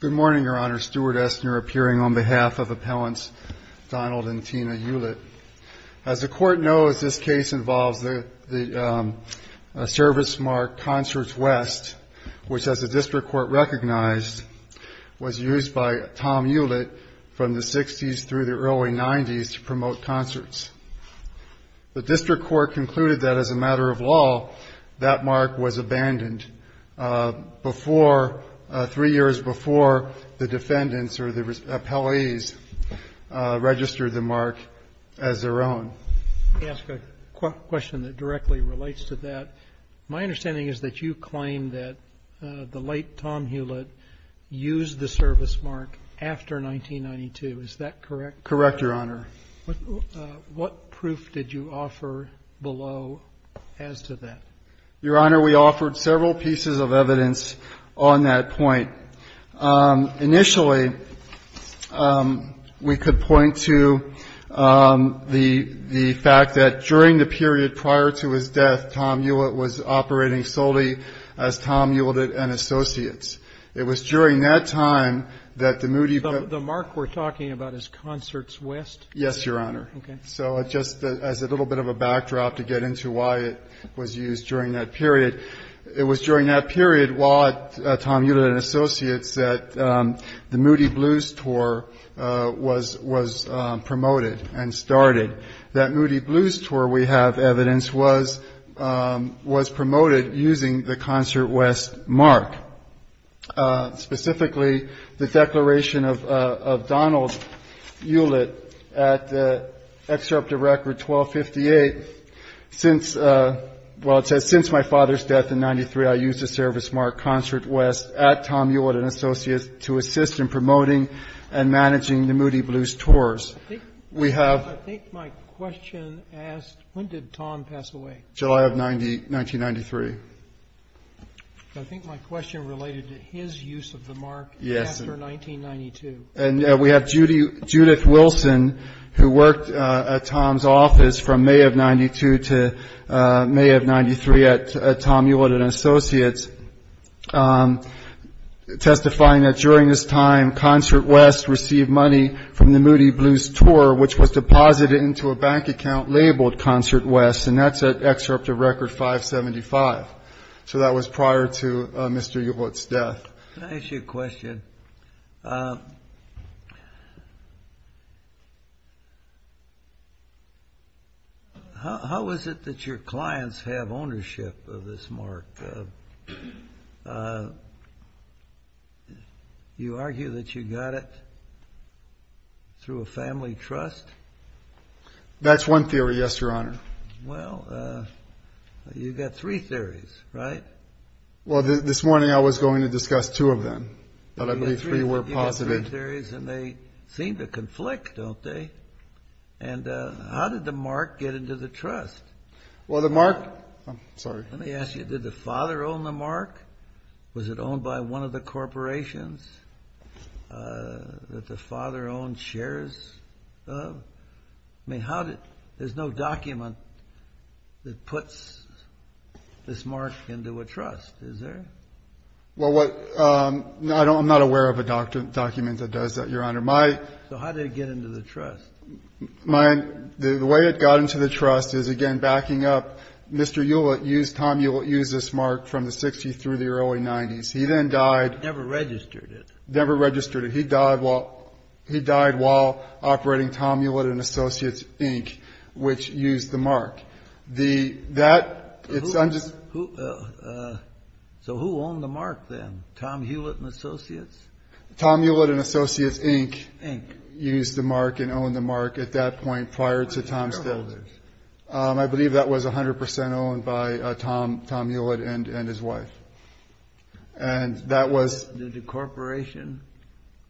Good morning, Your Honor. Stuart Estner appearing on behalf of Appellants Donald and Tina Hulett. As the Court knows, this case involves the service mark Concerts West, which as the District Court recognized, was used by Tom Hulett from the 60s through the early 90s to promote concerts. The District Court concluded that, as a matter of law, that mark was abandoned before, three years before the defendants or the appellees registered the mark as their own. Let me ask a question that directly relates to that. My understanding is that you claim that the late Tom Hulett used the service mark after 1992. Is that correct? Correct, Your Honor. What proof did you offer below as to that? Your Honor, we offered several pieces of evidence on that point. Initially, we could point to the fact that during the period prior to his death, Tom Hulett was operating solely as Tom Hulett and Associates. It was during that time that the Moody v. The mark we're talking about is Concerts West? Yes, Your Honor. Okay. So just as a little bit of a backdrop to get into why it was used during that period, it was during that period while Tom Hulett and Associates, that the Moody Blues Tour was promoted and started. That Moody Blues Tour, we have evidence, was promoted using the Concert West mark. Specifically, the declaration of Donald Hulett at Excerpt of Record 1258, since, well, it says, Since my father's death in 1993, I used the service mark Concert West at Tom Hulett and Associates to assist in promoting and managing the Moody Blues Tours. I think my question asked, when did Tom pass away? July of 1993. I think my question related to his use of the mark after 1992. And we have Judith Wilson, who worked at Tom's office from May of 1992 to May of 1993 at Tom Hulett and Associates, testifying that during this time, Concert West received money from the Moody Blues Tour, which was deposited into a bank account labeled Concert West, and that's at Excerpt of Record 575. So that was prior to Mr. Hulett's death. Can I ask you a question? How is it that your clients have ownership of this mark? You argue that you got it through a family trust? That's one theory, yes, Your Honor. Well, you've got three theories, right? Well, this morning I was going to discuss two of them, but I believe three were posited. You've got three theories, and they seem to conflict, don't they? And how did the mark get into the trust? Well, the mark, I'm sorry. Let me ask you, did the father own the mark? Was it owned by one of the corporations that the father owned shares of? I mean, there's no document that puts this mark into a trust, is there? Well, I'm not aware of a document that does that, Your Honor. So how did it get into the trust? The way it got into the trust is, again, backing up. Mr. Hewlett used this mark from the 60s through the early 90s. He then died. Never registered it. Never registered it. He died while operating Tom Hewlett & Associates, Inc., which used the mark. So who owned the mark then, Tom Hewlett & Associates? Tom Hewlett & Associates, Inc. used the mark and owned the mark at that point prior to Tom's death. I believe that was 100 percent owned by Tom Hewlett and his wife. And that was the corporation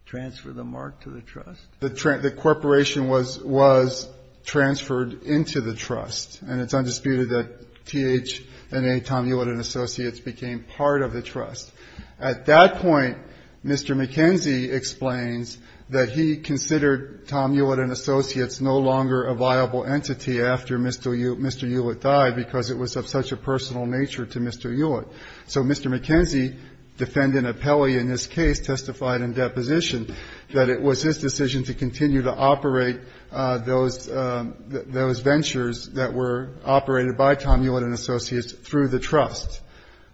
transferred the mark to the trust? The corporation was transferred into the trust. And it's undisputed that TH&A Tom Hewlett & Associates became part of the trust. At that point, Mr. McKenzie explains that he considered Tom Hewlett & Associates no longer a viable entity after Mr. Hewlett died because it was of such a personal nature to Mr. Hewlett. So Mr. McKenzie, defendant of Peli in this case, testified in deposition that it was his decision to continue to operate those ventures that were operated by Tom Hewlett & Associates through the trust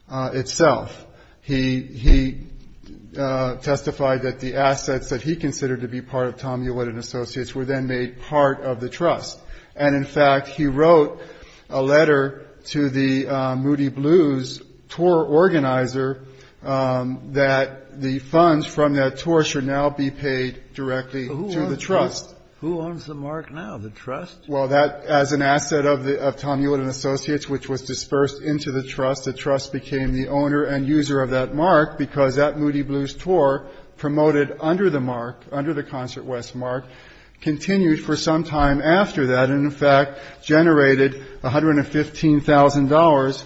itself. He testified that the assets that he considered to be part of Tom Hewlett & Associates were then made part of the trust. And, in fact, he wrote a letter to the Moody Blues tour organizer that the funds from that tour should now be paid directly to the trust. Who owns the mark now, the trust? Well, as an asset of Tom Hewlett & Associates, which was dispersed into the trust, the trust became the owner and user of that mark because that Moody Blues tour promoted under the mark, under the Concert West mark, continued for some time after that and, in fact, generated $115,000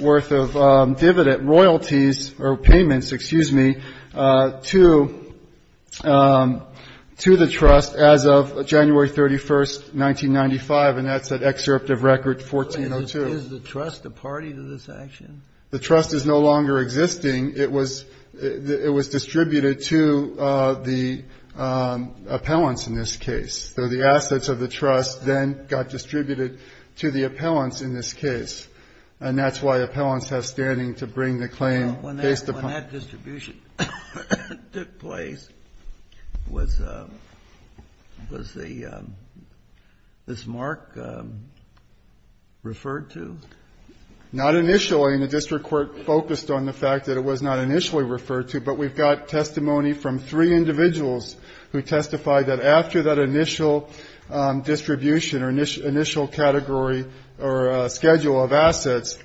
worth of dividend royalties or payments, excuse me, to the trust as of January 31, 1995, and that's that excerpt of Record 1402. Is the trust a party to this action? The trust is no longer existing. It was distributed to the appellants in this case. So the assets of the trust then got distributed to the appellants in this case, and that's why appellants have standing to bring the claim. When that distribution took place, was the mark referred to? Not initially, and the district court focused on the fact that it was not initially referred to, but we've got testimony from three individuals who testified that after that initial distribution or initial category or schedule of assets,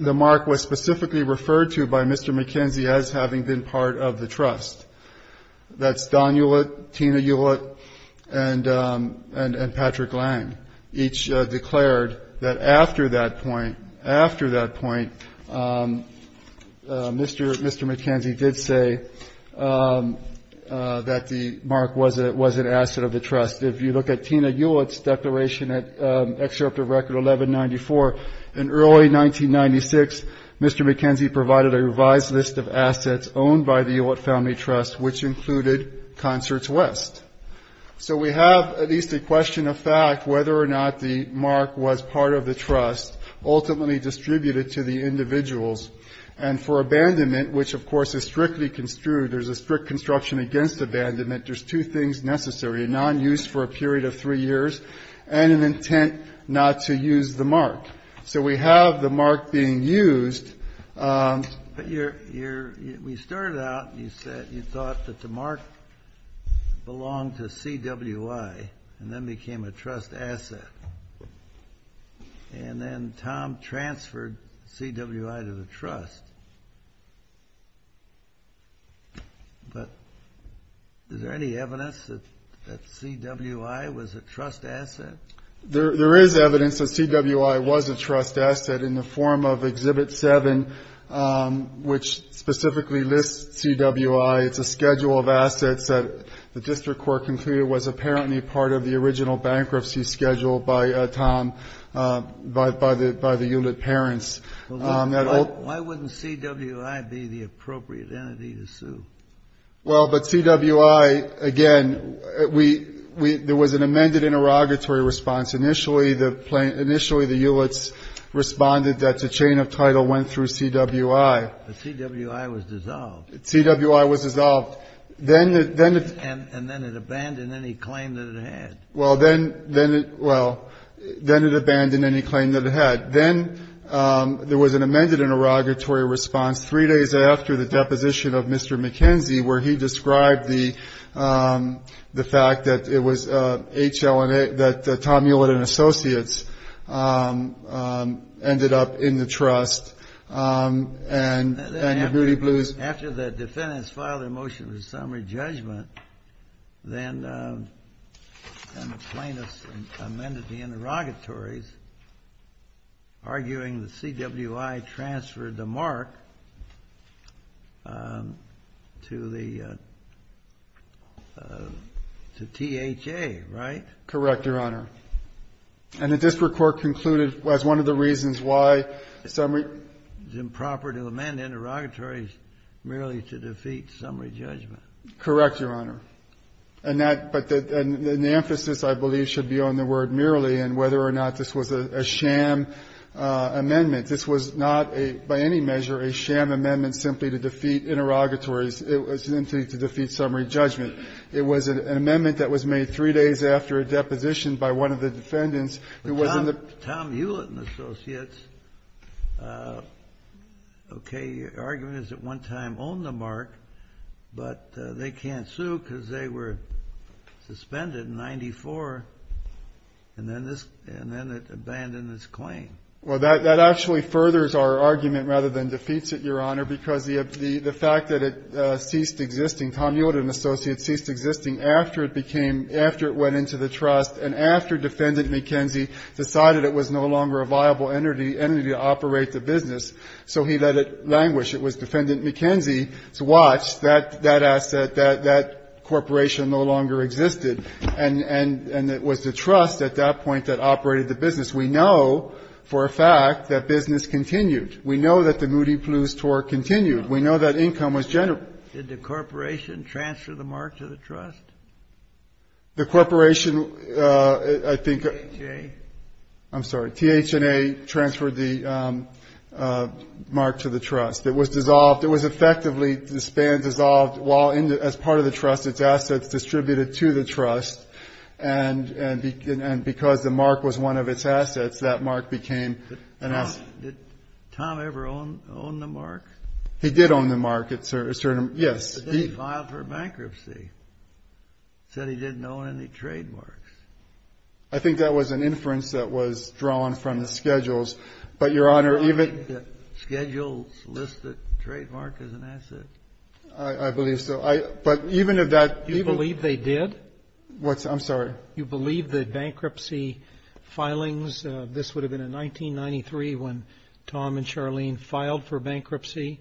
the mark was specifically referred to by Mr. McKenzie as having been part of the trust. That's Don Hewlett, Tina Hewlett, and Patrick Lang, each declared that after that point, Mr. McKenzie did say that the mark was an asset of the trust. If you look at Tina Hewlett's declaration at Excerpt of Record 1194, in early 1996, Mr. McKenzie provided a revised list of assets owned by the Hewlett Family Trust, which included Concerts West. So we have at least a question of fact whether or not the mark was part of the trust, ultimately distributed to the individuals. And for abandonment, which, of course, is strictly construed, there's a strict construction against abandonment, there's two things necessary, a nonuse for a period of three years and an intent not to use the mark. So we have the mark being used. But when you started out, you said you thought that the mark belonged to CWI and then became a trust asset, and then Tom transferred CWI to the trust. But is there any evidence that CWI was a trust asset? There is evidence that CWI was a trust asset in the form of Exhibit 7, which specifically lists CWI. It's a schedule of assets that the district court concluded was apparently part of the original bankruptcy schedule by Tom, by the Hewlett parents. Why wouldn't CWI be the appropriate entity to sue? Well, but CWI, again, there was an amended interrogatory response. Initially, the Hewletts responded that the chain of title went through CWI. But CWI was dissolved. CWI was dissolved. And then it abandoned any claim that it had. Well, then it abandoned any claim that it had. Then there was an amended interrogatory response three days after the deposition of Mr. McKenzie, where he described the fact that it was HLNA, that Tom Hewlett and Associates ended up in the trust, and the Hootie Blues. After the defendants filed their motion for summary judgment, then the plaintiffs amended the interrogatories, arguing the CWI transferred the mark to the THA, right? Correct, Your Honor. And the district court concluded as one of the reasons why summary was improper to amend interrogatories merely to defeat summary judgment. Correct, Your Honor. And that, but the emphasis, I believe, should be on the word merely and whether or not this was a sham amendment. This was not a, by any measure, a sham amendment simply to defeat interrogatories simply to defeat summary judgment. It was an amendment that was made three days after a deposition by one of the defendants who was in the ---- But Tom Hewlett and Associates, okay, argument is at one time owned the mark, but they can't sue because they were suspended in 94, and then this, and then it abandoned its claim. Well, that actually furthers our argument rather than defeats it, Your Honor, because the fact that it ceased existing, Tom Hewlett and Associates ceased existing after it became, after it went into the trust and after Defendant McKenzie decided it was no longer a viable entity to operate the business, so he let it languish. It was Defendant McKenzie's watch. That asset, that corporation no longer existed. And it was the trust at that point that operated the business. We know for a fact that business continued. We know that the Moody-Plews tour continued. We know that income was generated. Did the corporation transfer the mark to the trust? The corporation, I think ---- THA. I'm sorry. THNA transferred the mark to the trust. It was dissolved. It was effectively disbanded, dissolved, while as part of the trust, its assets distributed to the trust, and because the mark was one of its assets, that mark became an asset. Did Tom ever own the mark? He did own the mark, yes. But then he filed for bankruptcy. He said he didn't own any trademarks. Do you believe that schedules list a trademark as an asset? I believe so. But even if that ---- Do you believe they did? I'm sorry. Do you believe that bankruptcy filings ---- this would have been in 1993 when Tom and Charlene filed for bankruptcy,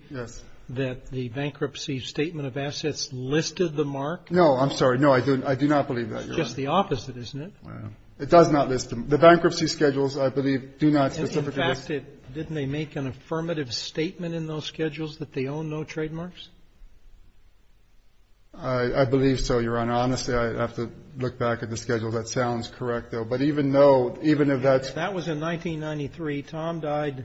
that the bankruptcy statement of assets listed the mark? No. I'm sorry. No, I do not believe that, Your Honor. It's just the opposite, isn't it? It does not list them. The bankruptcy schedules, I believe, do not specifically ---- In fact, didn't they make an affirmative statement in those schedules that they owned no trademarks? I believe so, Your Honor. Honestly, I'd have to look back at the schedules. That sounds correct, though. But even if that's ---- That was in 1993. Tom died,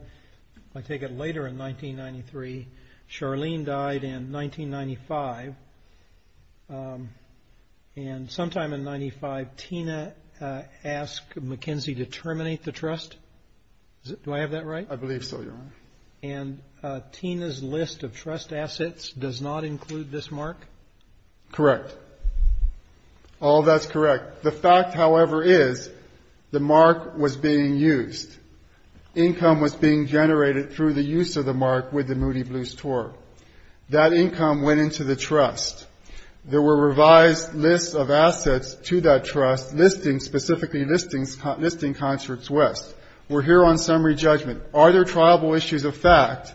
if I take it, later in 1993. Charlene died in 1995. And sometime in 1995, Tina asked McKenzie to terminate the trust. Do I have that right? I believe so, Your Honor. And Tina's list of trust assets does not include this mark? Correct. All that's correct. The fact, however, is the mark was being used. Income was being generated through the use of the mark with the Moody Blues tour. That income went into the trust. There were revised lists of assets to that trust, specifically listing Concerts West. We're here on summary judgment. Are there triable issues of fact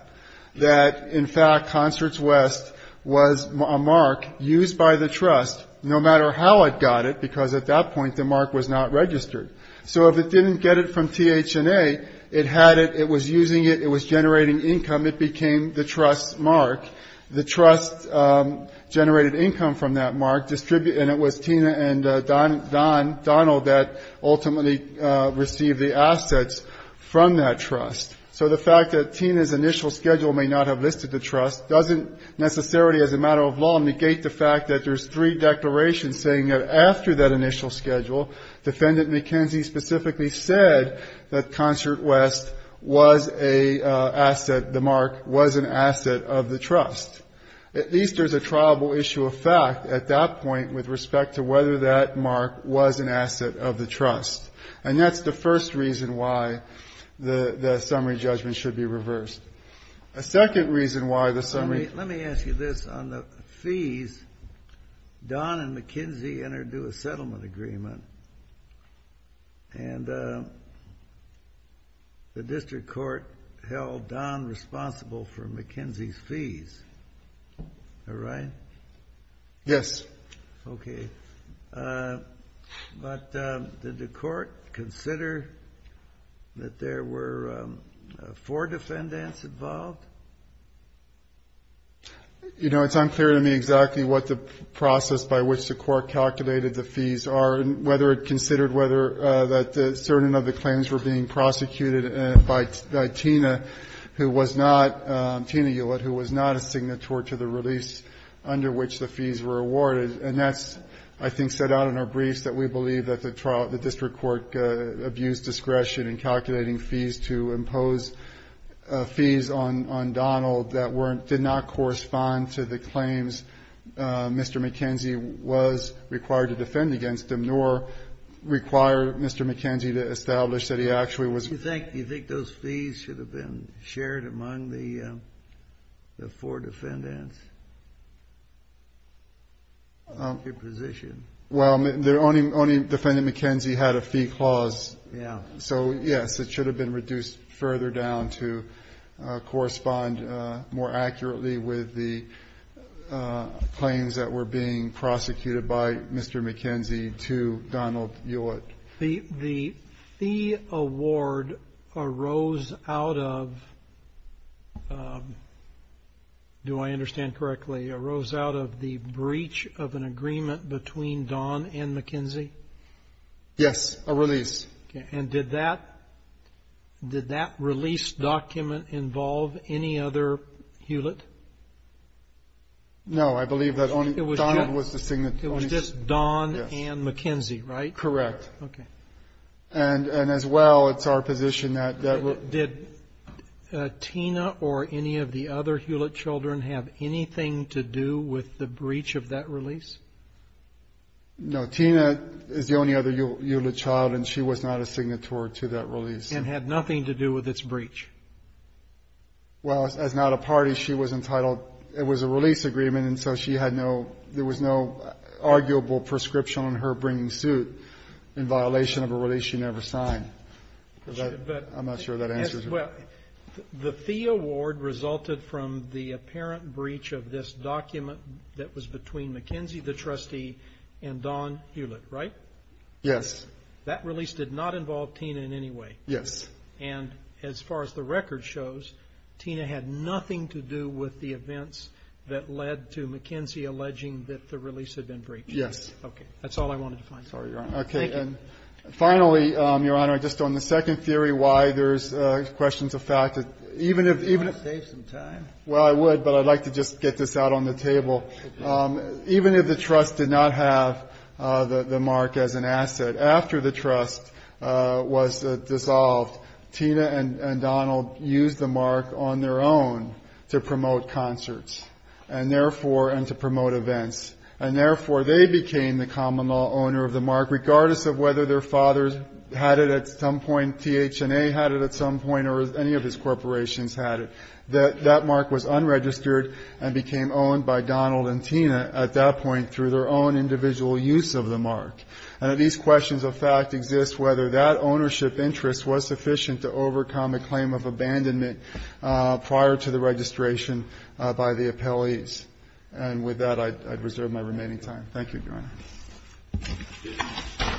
that, in fact, Concerts West was a mark used by the trust, no matter how it got it, because at that point the mark was not registered? So if it didn't get it from TH&A, it had it, it was using it, it was generating income, it became the trust's mark. The trust generated income from that mark, and it was Tina and Don Donald that ultimately received the assets from that trust. So the fact that Tina's initial schedule may not have listed the trust doesn't necessarily, as a matter of law, negate the fact that there's three declarations saying that after that initial schedule, Defendant McKenzie specifically said that Concerts West was a asset, the mark was an asset of the trust. At least there's a triable issue of fact at that point with respect to whether that mark was an asset of the trust. And that's the first reason why the summary judgment should be reversed. A second reason why the summary. Let me ask you this. On the fees, Don and McKenzie entered into a settlement agreement, and the district court held Don responsible for McKenzie's fees. Is that right? Yes. Okay. But did the court consider that there were four defendants involved? You know, it's unclear to me exactly what the process by which the court calculated the fees are, and whether it considered whether that certain of the claims were being prosecuted by Tina, who was not, Tina Hewlett, who was not a signatory to the release under which the fees were awarded. And that's, I think, set out in our briefs, that we believe that the district court abused discretion in calculating fees to impose fees on Donald that did not correspond to the claims Mr. McKenzie was required to defend against him, nor require Mr. McKenzie to establish that he actually was. What do you think? Do you think those fees should have been shared among the four defendants? Your position. Well, only defendant McKenzie had a fee clause. Yeah. So, yes, it should have been reduced further down to correspond more accurately with the claims that were being prosecuted by Mr. McKenzie to Donald Hewlett. The fee award arose out of, do I understand correctly, arose out of the breach of an agreement between Don and McKenzie? Yes. A release. And did that release document involve any other Hewlett? No. I believe that Don was the signatory. It was just Don and McKenzie, right? Correct. Okay. And as well, it's our position that that would be. Did Tina or any of the other Hewlett children have anything to do with the breach of that release? No. Tina is the only other Hewlett child, and she was not a signatory to that release. And had nothing to do with its breach? Well, as not a party, she was entitled, it was a release agreement, and so she had no, there was no arguable prescription on her bringing suit in violation of a release she never signed. I'm not sure that answers your question. Well, the fee award resulted from the apparent breach of this document that was between McKenzie, the trustee, and Don Hewlett, right? Yes. That release did not involve Tina in any way. Yes. And as far as the record shows, Tina had nothing to do with the events that led to McKenzie alleging that the release had been breached. Yes. Okay. That's all I wanted to find. Sorry, Your Honor. Thank you. Okay. And finally, Your Honor, just on the second theory why there's questions of fact, even if even if. Do you want to save some time? Well, I would, but I'd like to just get this out on the table. Even if the trust did not have the mark as an asset, after the trust was dissolved, Tina and Donald used the mark on their own to promote concerts and therefore and to promote events. And therefore, they became the common law owner of the mark, regardless of whether their fathers had it at some point, THNA had it at some point, or any of his corporations had it. That mark was unregistered and became owned by Donald and Tina at that point through their own individual use of the mark. And these questions of fact exist whether that ownership interest was sufficient to overcome a claim of abandonment prior to the registration by the appellees. And with that, I'd reserve my remaining time. Thank you, Your Honor.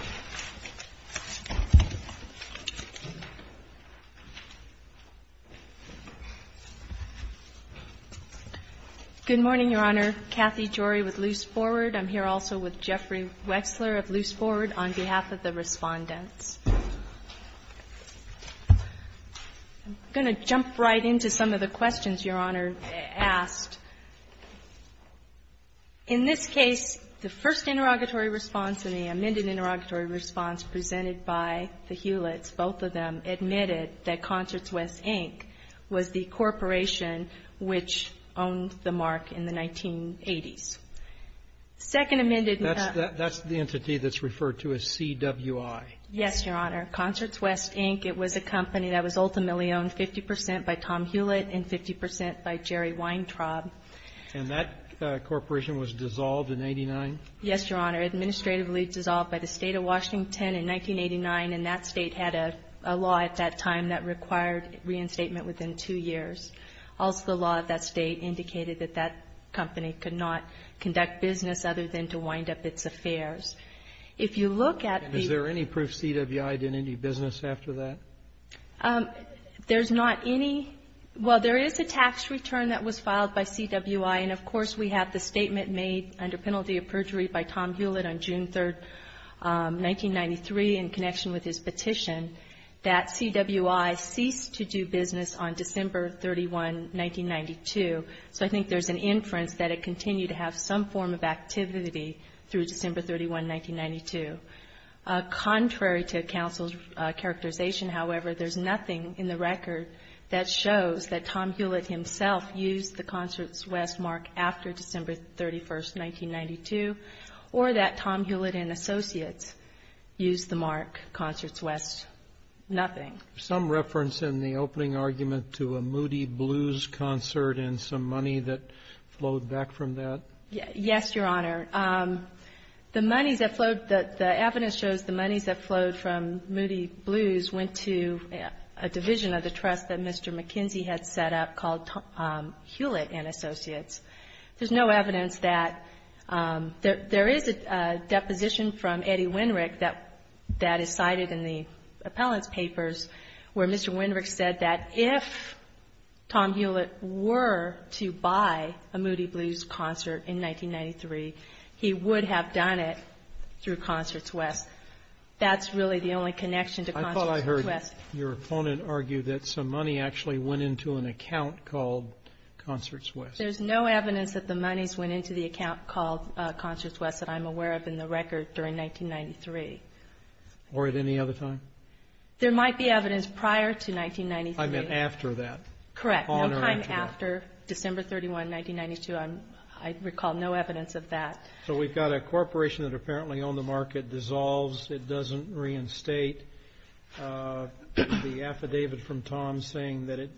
Good morning, Your Honor. Kathy Jory with Luce Forward. I'm here also with Jeffrey Wexler of Luce Forward on behalf of the respondents. I'm going to jump right into some of the questions Your Honor asked. In this case, the first interrogatory response and the amended interrogatory response presented by the Hewletts, admitted that Concerts West, Inc. was the corporation which owned the mark in the 1980s. Second amended. That's the entity that's referred to as CWI. Yes, Your Honor. Concerts West, Inc. It was a company that was ultimately owned 50 percent by Tom Hewlett and 50 percent by Jerry Weintraub. And that corporation was dissolved in 89? Yes, Your Honor. Administratively dissolved by the State of Washington in 1989. And that State had a law at that time that required reinstatement within two years. Also, the law of that State indicated that that company could not conduct business other than to wind up its affairs. If you look at the ---- And is there any proof CWI did any business after that? There's not any. Well, there is a tax return that was filed by CWI. And, of course, we have the statement made under penalty of perjury by Tom Hewlett on June 3, 1993 in connection with his petition that CWI ceased to do business on December 31, 1992. So I think there's an inference that it continued to have some form of activity through December 31, 1992. Contrary to counsel's characterization, however, there's nothing in the record that shows that Tom Hewlett himself used the Concerts West mark after December 31, 1992, or that Tom Hewlett and Associates used the mark Concerts West. Nothing. Is there some reference in the opening argument to a Moody Blues concert and some money that flowed back from that? Yes, Your Honor. The money that flowed ---- the evidence shows the monies that flowed from Moody Blues went to a division of the trust that Mr. McKinsey had set up called Tom Hewlett and Associates. There's no evidence that ---- there is a deposition from Eddie Winrick that is cited in the appellant's papers where Mr. Winrick said that if Tom Hewlett were to buy a Moody Blues concert in 1993, he would have done it through Concerts West. That's really the only connection to Concerts West. I thought I heard your opponent argue that some money actually went into an account called Concerts West. There's no evidence that the monies went into the account called Concerts West that I'm aware of in the record during 1993. Or at any other time? There might be evidence prior to 1993. I meant after that. Correct. On or after that. No time after December 31, 1992. I recall no evidence of that. So we've got a corporation that apparently owned the market dissolves. It doesn't reinstate. The affidavit from Tom saying that it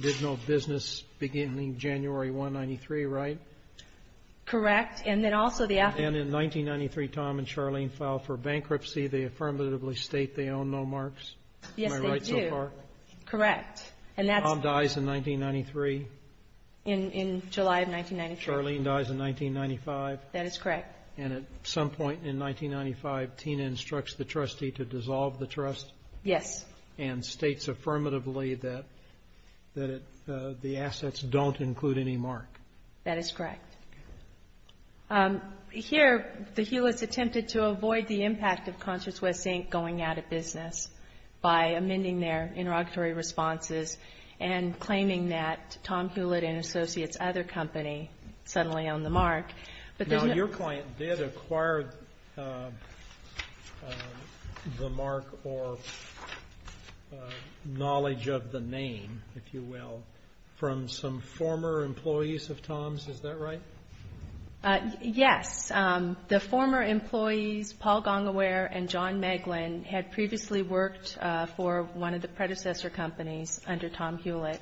did no business beginning January 1, 1993, right? Correct. And then also the affidavit. And in 1993, Tom and Charlene filed for bankruptcy. They affirmatively state they own no marks. Yes, they do. Am I right so far? Correct. Tom dies in 1993. In July of 1993. Charlene dies in 1995. That is correct. And at some point in 1995, Tina instructs the trustee to dissolve the trust. Yes. And states affirmatively that the assets don't include any mark. That is correct. Here, the Hewlett's attempted to avoid the impact of Concerts West Inc. going out of business by amending their interrogatory responses and claiming that Tom Hewlett and Associates, other company, suddenly owned the mark. Now, your client did acquire the mark or knowledge of the name, if you will, from some former employees of Tom's. Is that right? Yes. The former employees, Paul Gongaware and John Meglin, had previously worked for one of the predecessor companies under Tom Hewlett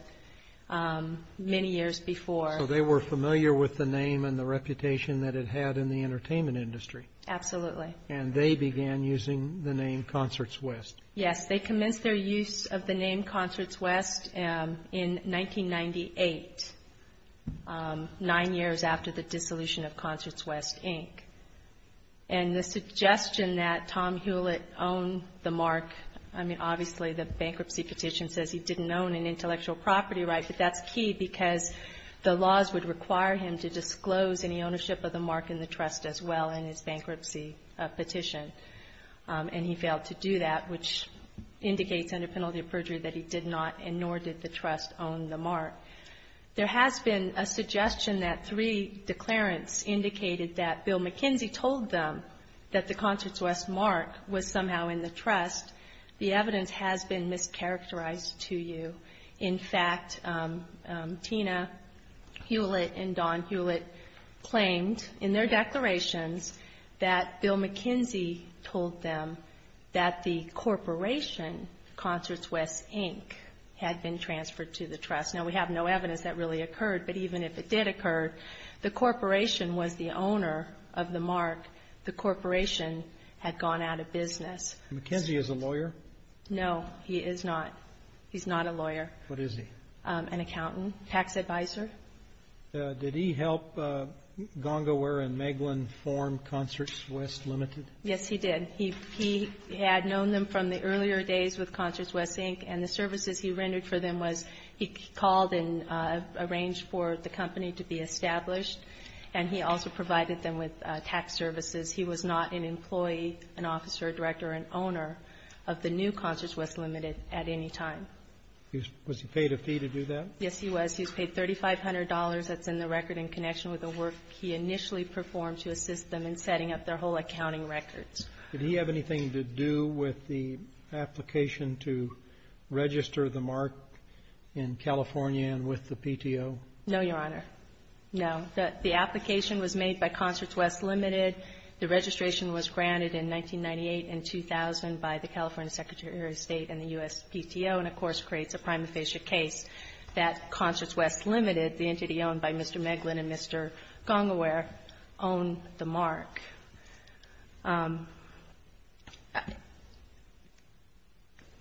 many years before. So they were familiar with the name and the reputation that it had in the entertainment industry. Absolutely. And they began using the name Concerts West. Yes. They commenced their use of the name Concerts West in 1998, nine years after the dissolution of Concerts West Inc. And the suggestion that Tom Hewlett owned the mark, I mean, obviously the bankruptcy petition says he didn't own an intellectual property right, but that's key because the laws would require him to disclose any ownership of the mark in the trust as well in his bankruptcy petition. And he failed to do that, which indicates under penalty of perjury that he did not, and nor did the trust own the mark. There has been a suggestion that three declarants indicated that Bill McKinsey told them that the Concerts West mark was somehow in the trust. The evidence has been mischaracterized to you. In fact, Tina Hewlett and Don Hewlett claimed in their declarations that Bill McKinsey told them that the corporation, Concerts West Inc., had been transferred to the trust. Now, we have no evidence that really occurred, but even if it did occur, the corporation was the owner of the mark. The corporation had gone out of business. McKinsey is a lawyer? No, he is not. He's not a lawyer. What is he? An accountant, tax advisor. Did he help Gongower and Meglin form Concerts West Limited? Yes, he did. He had known them from the earlier days with Concerts West Inc., and the services he rendered for them was he called and arranged for the company to be established, and he also provided them with tax services. He was not an employee, an officer, a director, or an owner of the new Concerts West Limited at any time. Was he paid a fee to do that? Yes, he was. He was paid $3,500. That's in the record in connection with the work he initially performed to assist them in setting up their whole accounting records. Did he have anything to do with the application to register the mark in California and with the PTO? No, Your Honor. No. The application was made by Concerts West Limited. The registration was granted in 1998 and 2000 by the California Secretary of State and the U.S. PTO, and of course creates a prima facie case that Concerts West Limited, the entity owned by Mr. Meglin and Mr. Gongaware, owned the mark.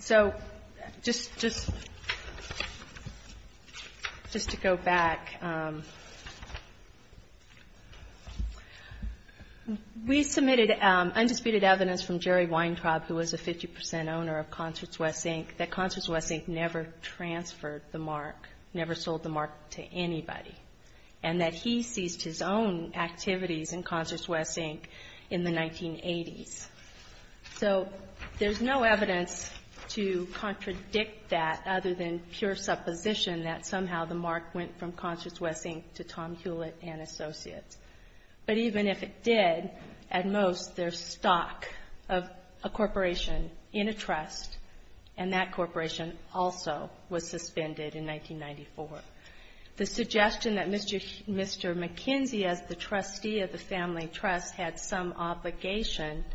So just to go back, we submitted undisputed evidence from Jerry Weintraub, who was a 50 percent owner of Concerts West Inc., that Concerts West Inc. never transferred the mark, never sold the mark to anybody, and that he ceased his own activities in Concerts West Inc. in the 1980s. So there's no evidence to contradict that other than pure supposition that somehow the mark went from Concerts West Inc. to Tom Hewlett & Associates. But even if it did, at most, there's stock of a corporation in a trust, and that corporation also was suspended in 1994. The suggestion that Mr. McKenzie, as the trustee of the family trust, had some obligation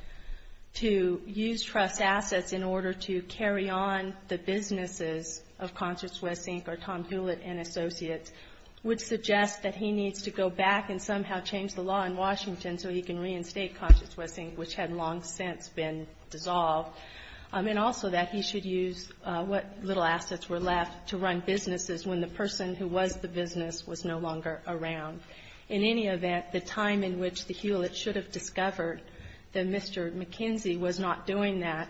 to use trust assets in order to carry on the businesses of Concerts West Inc. or Tom Hewlett & Associates would suggest that he needs to go back and somehow change the law in Washington so he can reinstate Concerts West Inc., which had long since been dissolved. And also that he should use what little assets were left to run businesses when the person who was the business was no longer around. In any event, the time in which the Hewlett's should have discovered that Mr. McKenzie was not doing that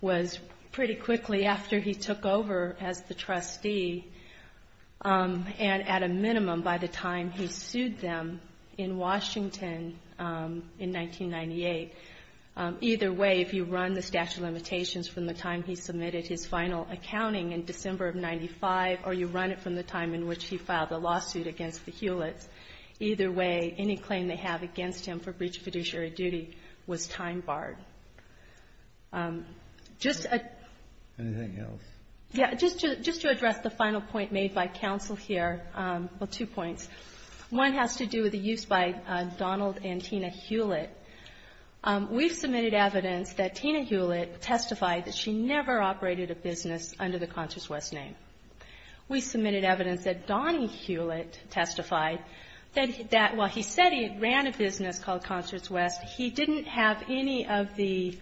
was pretty quickly after he took over as the trustee, and at a minimum by the time he sued them in Washington in 1998. Either way, if you run the statute of limitations from the time he submitted his final accounting in December of 1995, or you run it from the time in which he filed the lawsuit against the Hewlett's, either way, any claim they have against him for breach of fiduciary duty was time barred. Anything else? Just to address the final point made by counsel here, well, two points. One has to do with the use by Donald and Tina Hewlett. We've submitted evidence that Tina Hewlett testified that she never operated a business under the Concerts West name. We submitted evidence that Donnie Hewlett testified that while he said he ran a business called Concerts West, he didn't have any of the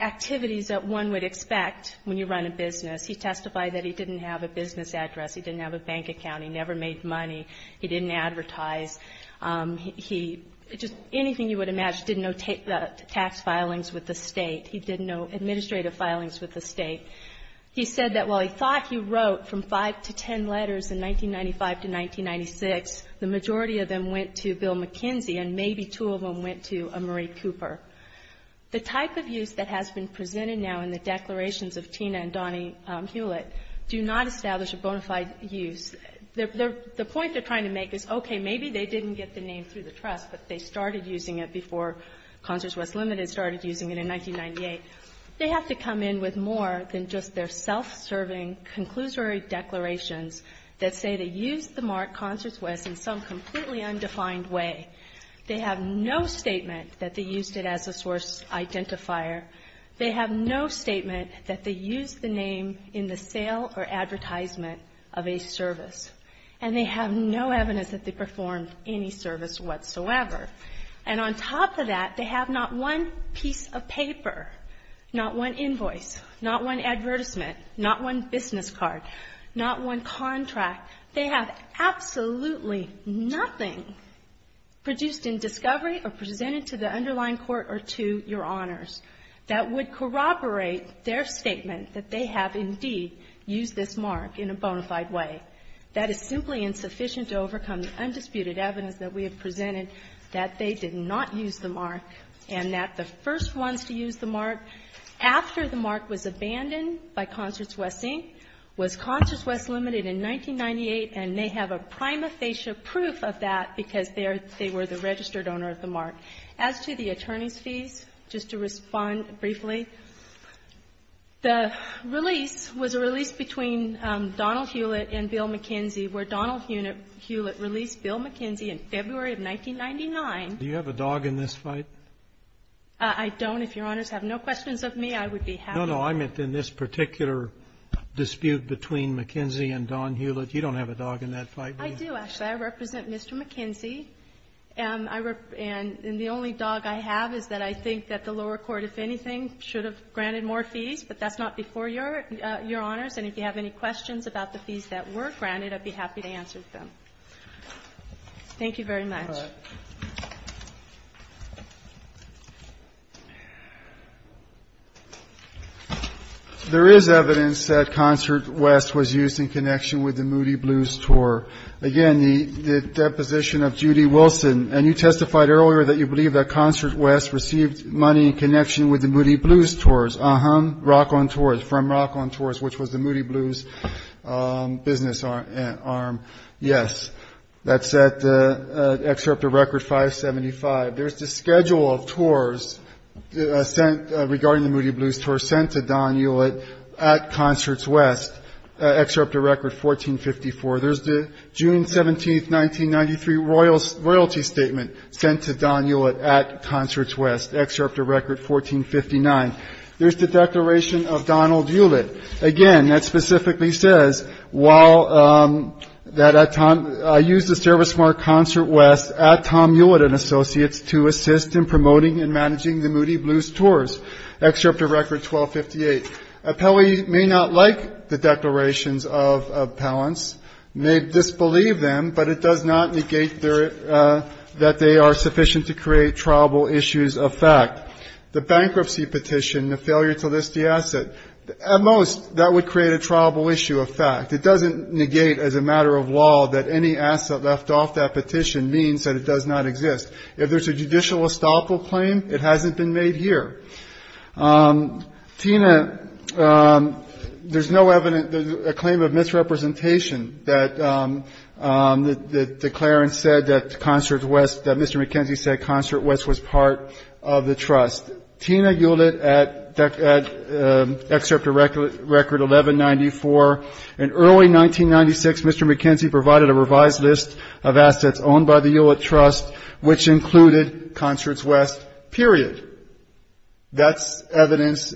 activities that one would expect when you run a business. He testified that he didn't have a business address, he didn't have a bank account, he never made money, he didn't advertise. He just, anything you would imagine, didn't know tax filings with the State. He didn't know administrative filings with the State. He said that while he thought he wrote from five to ten letters in 1995 to 1996, the majority of them went to Bill McKenzie, and maybe two of them went to a Marie Cooper. The type of use that has been presented now in the declarations of Tina and Donnie Hewlett do not establish a bona fide use. The point they're trying to make is, okay, maybe they didn't get the name through the trust, but they started using it before Concerts West Limited started using it in 1998. They have to come in with more than just their self-serving conclusory declarations that say they used the mark Concerts West in some completely undefined way. They have no statement that they used it as a source identifier. They have no statement that they used the name in the sale or advertisement of a service. And they have no evidence that they performed any service whatsoever. And on top of that, they have not one piece of paper, not one invoice, not one advertisement, not one business card, not one contract. They have absolutely nothing produced in discovery or presented to the underlying court or to Your Honors that would corroborate their statement that they have, indeed, used this mark in a bona fide way. That is simply insufficient to overcome the undisputed evidence that we have presented that they did not use the mark and that the first ones to use the mark after the mark was abandoned by Concerts West Inc. was Concerts West Limited in 1998, and they have a prima facie proof of that because they were the registered owner of the mark. As to the attorney's fees, just to respond briefly, the release was a release between Donald Hewlett and Bill McKenzie where Donald Hewlett released Bill McKenzie in February of 1999. Do you have a dog in this fight? I don't. If Your Honors have no questions of me, I would be happy. No, no. I meant in this particular dispute between McKenzie and Don Hewlett. You don't have a dog in that fight, do you? I do, actually. I represent Mr. McKenzie. And the only dog I have is that I think that the lower court, if anything, should have granted more fees, but that's not before Your Honors. And if you have any questions about the fees that were granted, I'd be happy to answer them. Thank you very much. There is evidence that Concerts West was used in connection with the Moody Blues tour. Again, the deposition of Judy Wilson. And you testified earlier that you believe that Concerts West received money in connection with the Moody Blues tours. Uh-huh. Rock on Tours. From Rock on Tours, which was the Moody Blues business arm. Yes. That's at Excerpt of Record 575. There's the schedule of tours sent regarding the Moody Blues tours sent to Don Hewlett at Concerts West. Excerpt of Record 1454. There's the June 17, 1993 royalty statement sent to Don Hewlett at Concerts West. Excerpt of Record 1459. There's the declaration of Donald Hewlett. Again, that specifically says, while that at time, I used the service from our Concert West at Tom Hewlett and Associates to assist in promoting and managing the Moody Blues tours. Excerpt of Record 1258. Appellee may not like the declarations of appellants, may disbelieve them, but it does not negate that they are sufficient to create triable issues of fact. The bankruptcy petition, the failure to list the asset, at most, that would create a triable issue of fact. It doesn't negate, as a matter of law, that any asset left off that petition means that it does not exist. If there's a judicial estoppel claim, it hasn't been made here. Tina, there's no evidence, a claim of misrepresentation that the declarant said that Concerts West, that Mr. McKenzie said Concerts West was part of the trust. Tina Hewlett at Excerpt of Record 1194. In early 1996, Mr. McKenzie provided a revised list of assets owned by the Hewlett Trust, which included Concerts West, period. That's evidence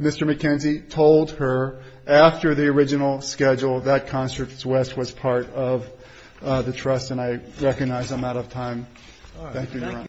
Mr. McKenzie told her after the original schedule that Concerts West was part of the trust, and I recognize I'm out of time.